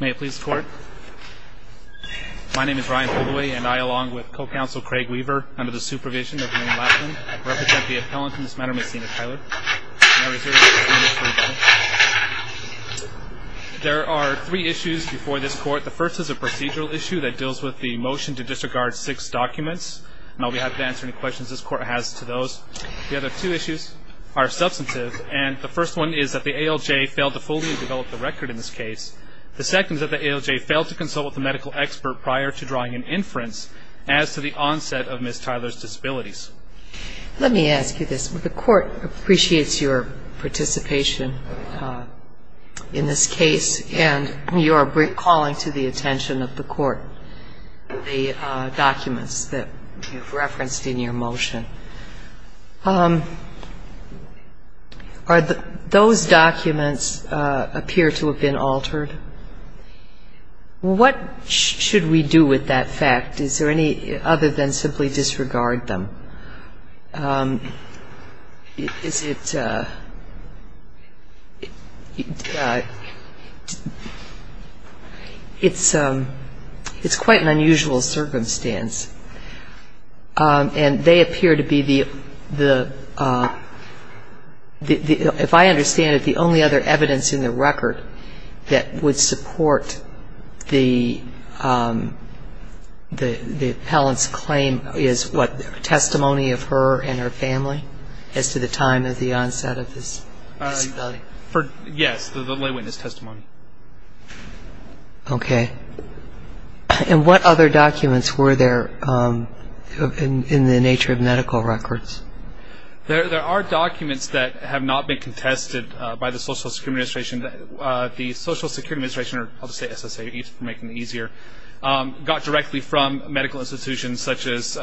May it please the court. My name is Brian Holdaway and I, along with co-counsel Craig Weaver, under the supervision of William Laplin, represent the appellant in this matter, Ms. Sina Tyler. May I reserve this witness for a moment? There are three issues before this court. The first is a procedural issue that deals with the motion to disregard six documents. I'll be happy to answer any questions this court has to those. The other two issues are substantive and the first one is that the ALJ failed to fully develop the record in this case. The second is that the ALJ failed to consult with the medical expert prior to drawing an inference as to the onset of Ms. Tyler's disabilities. Let me ask you this. The court appreciates your participation in this case and you are calling to the attention of the court the documents that you've referenced in your motion. Are those documents appear to have been altered? What should we do with that fact? Is there any other than simply disregard them? It's quite an unusual circumstance. And they appear to be the, if I understand it, the only other evidence in the record that would support the appellant's claim is what, testimony of her and her family as to the time of the onset of this disability? Yes, the lay witness testimony. Okay. And what other documents were there in the nature of medical records? There are documents that have not been contested by the Social Security Administration. The Social Security Administration, or I'll just say SSA for making it easier, got directly from medical institutions such as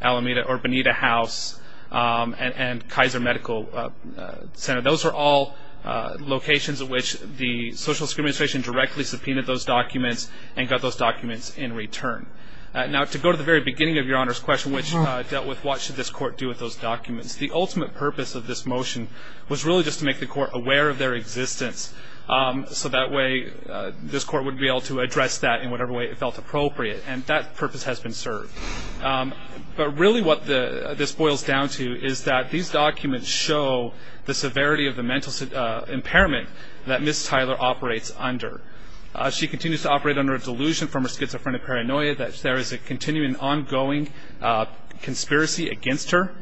Alameda or Bonita House and Kaiser Medical Center. Those are all locations at which the Social Security Administration directly subpoenaed those documents and got those documents in return. Now to go to the very beginning of your Honor's question, which dealt with what should this court do with those documents, the ultimate purpose of this motion was really just to make the court aware of their existence. So that way this court would be able to address that in whatever way it felt appropriate. And that purpose has been served. But really what this boils down to is that these documents show the severity of the mental impairment that Ms. Tyler operates under. She continues to operate under a delusion from her schizophrenic paranoia that there is a continuing, ongoing conspiracy against her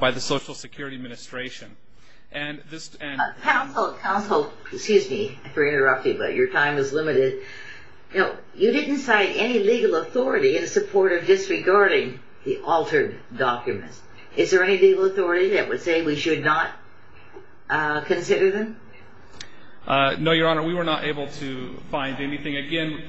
by the Social Security Administration. Counsel, excuse me for interrupting, but your time is limited. You didn't cite any legal authority in support of disregarding the altered documents. Is there any legal authority that would say we should not consider them? No, Your Honor, we were not able to find anything. Again,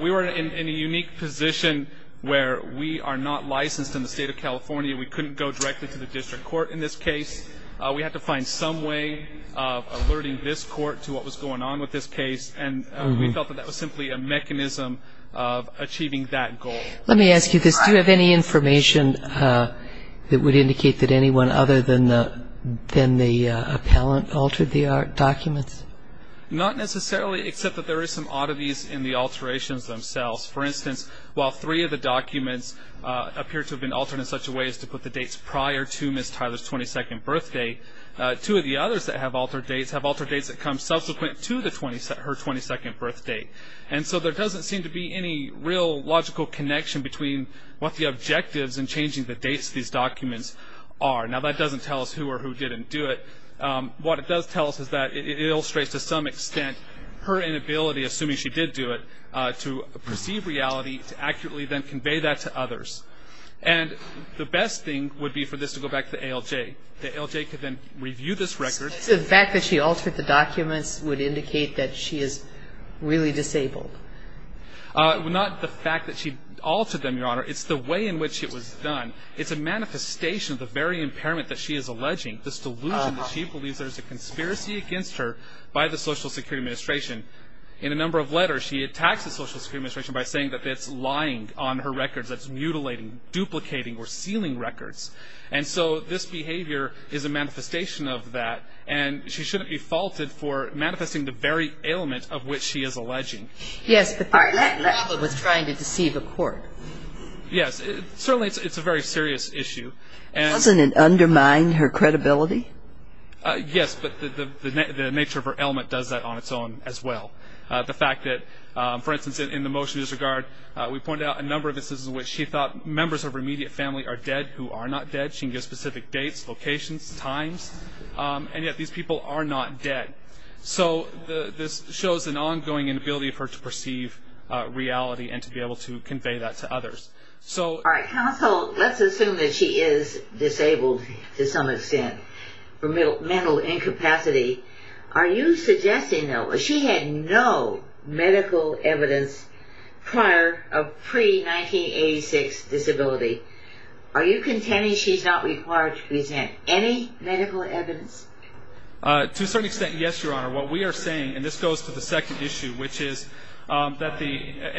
we were in a unique position where we are not licensed in the State of California. We couldn't go directly to the district court in this case. We had to find some way of alerting this court to what was going on with this case. And we felt that that was simply a mechanism of achieving that goal. Let me ask you this. Do you have any information that would indicate that anyone other than the appellant altered the documents? Not necessarily, except that there is some oddities in the alterations themselves. For instance, while three of the documents appear to have been altered in such a way as to put the dates prior to Ms. Tyler's 22nd birthday, two of the others that have altered dates have altered dates that come subsequent to her 22nd birthday. And so there doesn't seem to be any real logical connection between what the objectives in changing the dates of these documents are. Now, that doesn't tell us who or who didn't do it. What it does tell us is that it illustrates to some extent her inability, assuming she did do it, to perceive reality, to accurately then convey that to others. And the best thing would be for this to go back to the ALJ. The ALJ could then review this record. So the fact that she altered the documents would indicate that she is really disabled? Not the fact that she altered them, Your Honor. It's the way in which it was done. It's a manifestation of the very impairment that she is alleging, this delusion that she believes there is a conspiracy against her by the Social Security Administration. In a number of letters, she attacks the Social Security Administration by saying that it's lying on her records, that it's mutilating, duplicating, or sealing records. And so this behavior is a manifestation of that, and she shouldn't be faulted for manifesting the very ailment of which she is alleging. Yes, the fact that Lava was trying to deceive a court. Yes, certainly it's a very serious issue. Doesn't it undermine her credibility? Yes, but the nature of her ailment does that on its own as well. The fact that, for instance, in the motion disregard, we pointed out a number of instances in which she thought members of her immediate family are dead who are not dead. She can give specific dates, locations, times, and yet these people are not dead. So this shows an ongoing inability of her to perceive reality and to be able to convey that to others. All right, counsel, let's assume that she is disabled to some extent for mental incapacity. Are you suggesting, though, that she had no medical evidence prior of pre-1986 disability? Are you contending she's not required to present any medical evidence? To a certain extent, yes, Your Honor. What we are saying, and this goes to the second issue, which is that the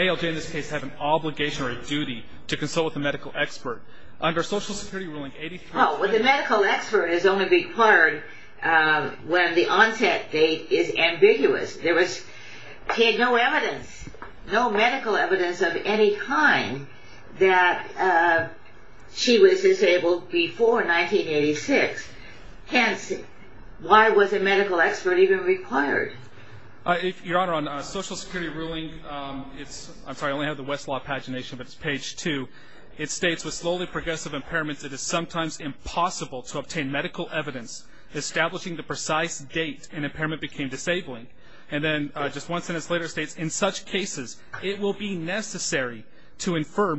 ALJ in this case has an obligation or a duty to consult with a medical expert. Well, the medical expert is only required when the onset date is ambiguous. There was no evidence, no medical evidence of any kind that she was disabled before 1986. Hence, why was a medical expert even required? Your Honor, on social security ruling, I'm sorry, I only have the Westlaw pagination, but it's page 2. It states, with slowly progressive impairments, it is sometimes impossible to obtain medical evidence establishing the precise date an impairment became disabling. And then just one sentence later, it states, in such cases, it will be necessary to infer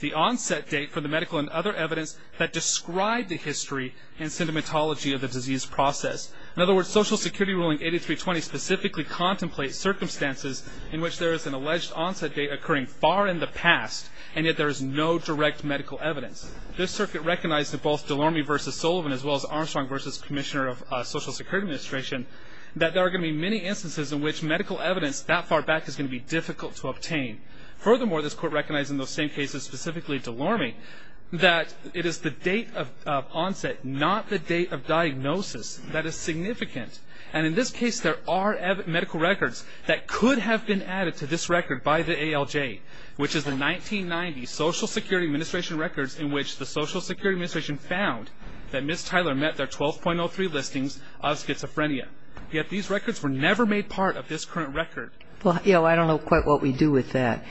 the onset date for the medical and other evidence that describe the history and sentimentology of the disease process. In other words, social security ruling 8320 specifically contemplates circumstances in which there is an alleged onset date occurring far in the past, and yet there is no direct medical evidence. This circuit recognized that both DeLorme v. Sullivan, as well as Armstrong v. Commissioner of Social Security Administration, that there are going to be many instances in which medical evidence that far back is going to be difficult to obtain. Furthermore, this court recognized in those same cases, specifically DeLorme, that it is the date of onset, not the date of diagnosis, that is significant. And in this case, there are medical records that could have been added to this record by the ALJ, which is the 1990 Social Security Administration records in which the Social Security Administration found that Ms. Tyler met their 12.03 listings of schizophrenia. Yet these records were never made part of this current record. Well, I don't know quite what we do with that.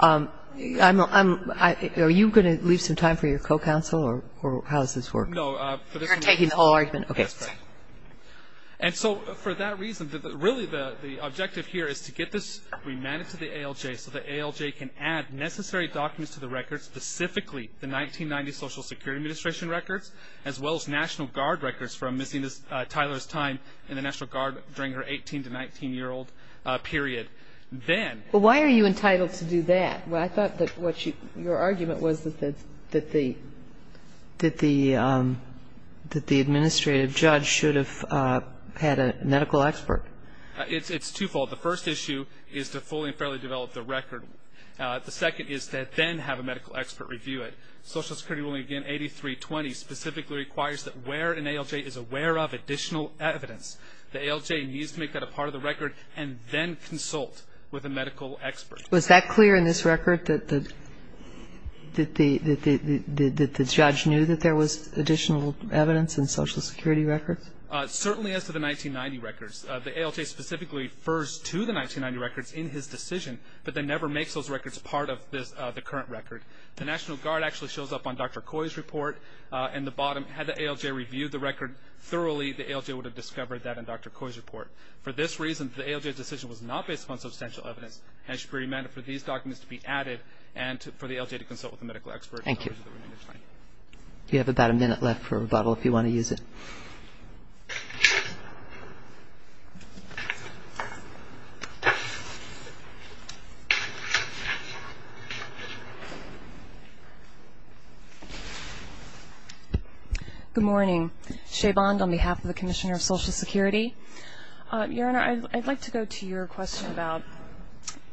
Are you going to leave some time for your co-counsel, or how does this work? No. You're taking the whole argument? That's right. And so for that reason, really the objective here is to get this remanded to the ALJ so the ALJ can add necessary documents to the record, specifically the 1990 Social Security Administration records, as well as National Guard records from missing Tyler's time in the National Guard during her 18- to 19-year-old period. Well, why are you entitled to do that? Well, I thought that your argument was that the administrative judge should have had a medical expert. It's twofold. The first issue is to fully and fairly develop the record. The second is to then have a medical expert review it. Social Security ruling, again, 8320, specifically requires that where an ALJ is aware of additional evidence, the ALJ needs to make that a part of the record and then consult with a medical expert. Was that clear in this record, that the judge knew that there was additional evidence in Social Security records? Certainly as to the 1990 records. The ALJ specifically refers to the 1990 records in his decision, but then never makes those records part of the current record. The National Guard actually shows up on Dr. Coy's report, and the bottom, had the ALJ reviewed the record thoroughly, the ALJ would have discovered that in Dr. Coy's report. For this reason, the ALJ's decision was not based upon substantial evidence. And it should be remanded for these documents to be added and for the ALJ to consult with a medical expert. Thank you. You have about a minute left for a rebuttal if you want to use it. Good morning. Shay Bond on behalf of the Commissioner of Social Security. Your Honor, I'd like to go to your question about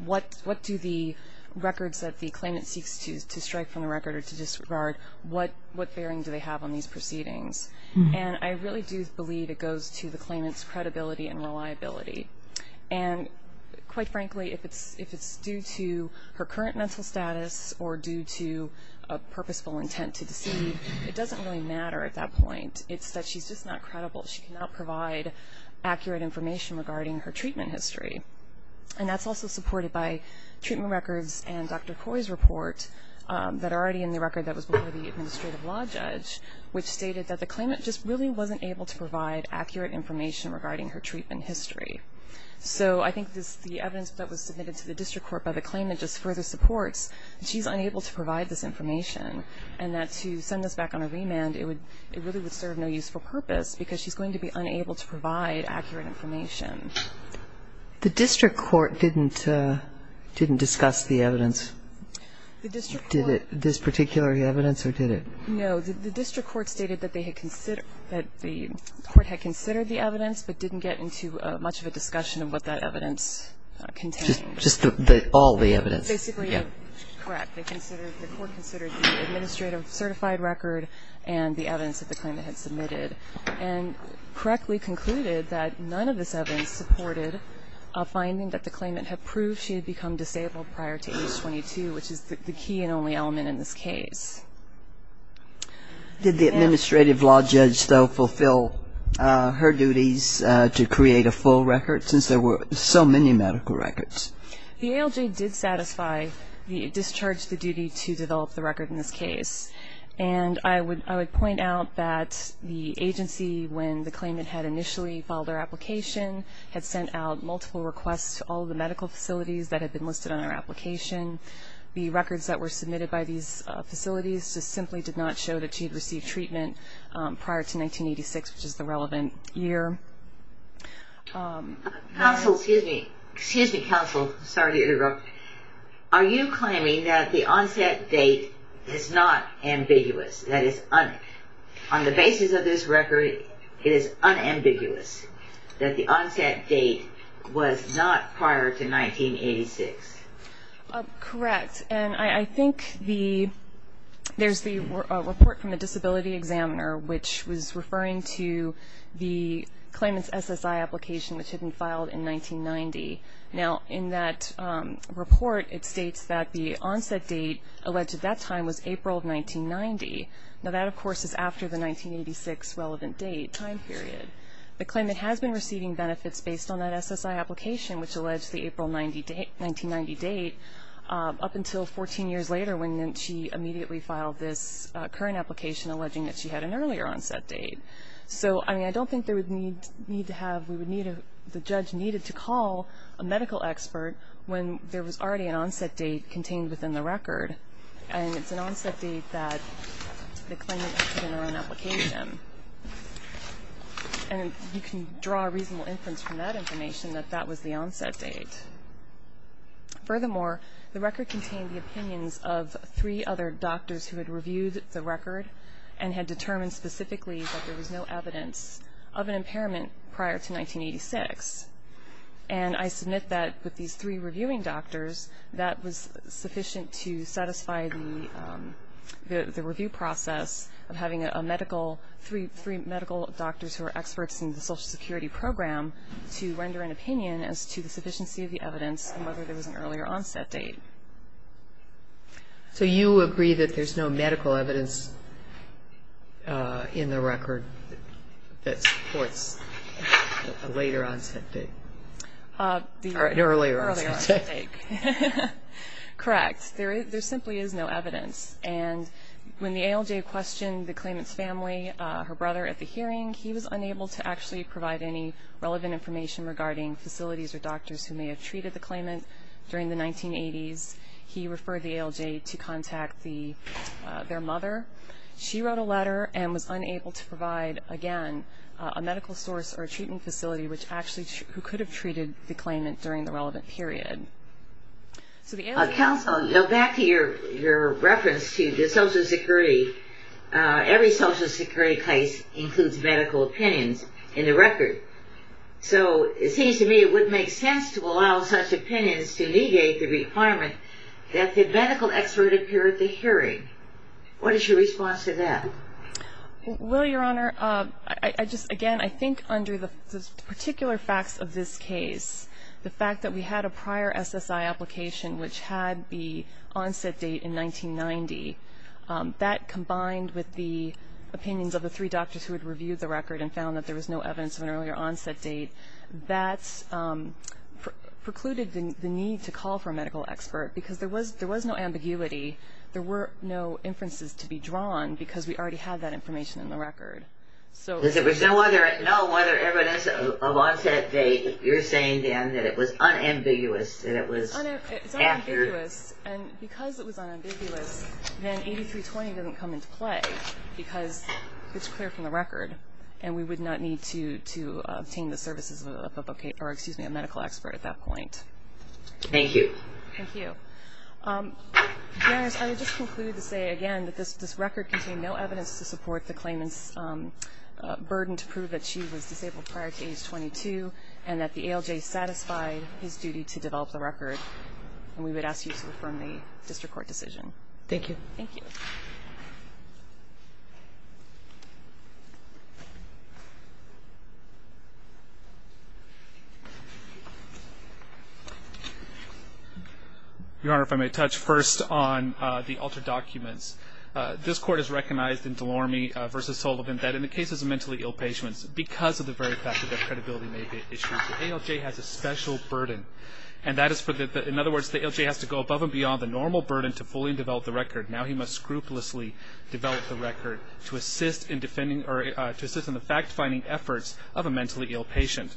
what do the records that the claimant seeks to strike from the record or to disregard, what bearing do they have on these proceedings? And I really do believe it goes to the claimant's credibility and reliability. And quite frankly, if it's due to her current mental status or due to a purposeful intent to deceive, it doesn't really matter at that point. It's that she's just not credible. She cannot provide accurate information regarding her treatment history. And that's also supported by treatment records and Dr. Coy's report that are already in the record that was before the administrative law judge, which stated that the claimant just really wasn't able to provide accurate information regarding her treatment history. So I think the evidence that was submitted to the district court by the claimant just further supports that she's unable to provide this information and that to send this back on a remand, it really would serve no useful purpose because she's going to be unable to provide accurate information. The district court didn't discuss the evidence. Did this particular evidence or did it? No. The district court stated that the court had considered the evidence but didn't get into much of a discussion of what that evidence contained. Just all the evidence. Basically, correct. The court considered the administrative certified record and the evidence that the claimant had submitted and correctly concluded that none of this evidence supported a finding that the claimant had proved she had become disabled prior to age 22, which is the key and only element in this case. Did the administrative law judge, though, fulfill her duties to create a full record since there were so many medical records? The ALJ did satisfy the discharge of the duty to develop the record in this case. And I would point out that the agency, when the claimant had initially filed their application, had sent out multiple requests to all the medical facilities that had been listed on their application. The records that were submitted by these facilities just simply did not show that she had received treatment prior to 1986, which is the relevant year. Counsel, excuse me. Excuse me, counsel. Sorry to interrupt. Are you claiming that the onset date is not ambiguous? That is, on the basis of this record, it is unambiguous that the onset date was not prior to 1986? Correct. And I think there's the report from the disability examiner, which was referring to the claimant's SSI application, which had been filed in 1990. Now, in that report, it states that the onset date alleged at that time was April of 1990. Now, that, of course, is after the 1986 relevant date, time period. The claimant has been receiving benefits based on that SSI application, which alleged the April 1990 date up until 14 years later, when she immediately filed this current application alleging that she had an earlier onset date. So, I mean, I don't think there would need to have the judge needed to call a medical expert when there was already an onset date contained within the record. And it's an onset date that the claimant put in her own application. And you can draw a reasonable inference from that information that that was the onset date. Furthermore, the record contained the opinions of three other doctors who had reviewed the record and had determined specifically that there was no evidence of an impairment prior to 1986. And I submit that with these three reviewing doctors, that was sufficient to satisfy the review process of having three medical doctors who are experts in the Social Security program to render an opinion as to the sufficiency of the evidence and whether there was an earlier onset date. So you agree that there's no medical evidence in the record that supports a later onset date? Earlier onset date. Correct. There simply is no evidence. And when the ALJ questioned the claimant's family, her brother at the hearing, he was unable to actually provide any relevant information regarding facilities or doctors who may have treated the claimant during the 1980s. He referred the ALJ to contact their mother. She wrote a letter and was unable to provide, again, a medical source or a treatment facility who could have treated the claimant during the relevant period. Counsel, back to your reference to the Social Security. Every Social Security case includes medical opinions in the record. So it seems to me it wouldn't make sense to allow such opinions to negate the requirement that the medical expert appear at the hearing. What is your response to that? Well, Your Honor, again, I think under the particular facts of this case, the fact that we had a prior SSI application which had the onset date in 1990, that combined with the opinions of the three doctors who had reviewed the record and found that there was no evidence of an earlier onset date, that precluded the need to call for a medical expert because there was no ambiguity. There were no inferences to be drawn because we already had that information in the record. There was no evidence of onset date. You're saying, then, that it was unambiguous, that it was accurate. It's unambiguous. And because it was unambiguous, then 8320 doesn't come into play because it's clear from the record, and we would not need to obtain the services of a medical expert at that point. Thank you. Thank you. Your Honors, I would just conclude to say again that this record contained no evidence to support the claimant's burden to prove that she was disabled prior to age 22 and that the ALJ satisfied his duty to develop the record, and we would ask you to affirm the district court decision. Thank you. Thank you. Your Honor, if I may touch first on the altered documents. This court has recognized in DeLorme v. Sullivan that in the cases of mentally ill patients, because of the very fact that their credibility may be at issue, the ALJ has a special burden, and that is for the ALJ has to go above and beyond the normal burden to fully develop the record. Now he must scrupulously develop the record to assist in the fact-finding efforts of a mentally ill patient.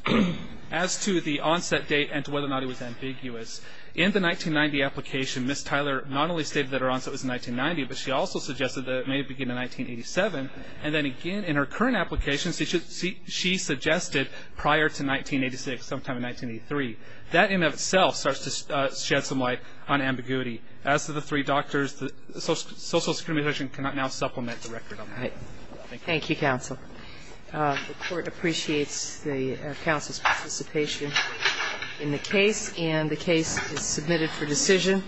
As to the onset date and to whether or not it was ambiguous, in the 1990 application Ms. Tyler not only stated that her onset was in 1990, but she also suggested that it may have begun in 1987, and then again in her current application she suggested prior to 1986, sometime in 1983. That in and of itself starts to shed some light on ambiguity. As to the three doctors, social discrimination cannot now supplement the record on that. Thank you. Thank you, counsel. The court appreciates the counsel's participation in the case, and the case is submitted for decision.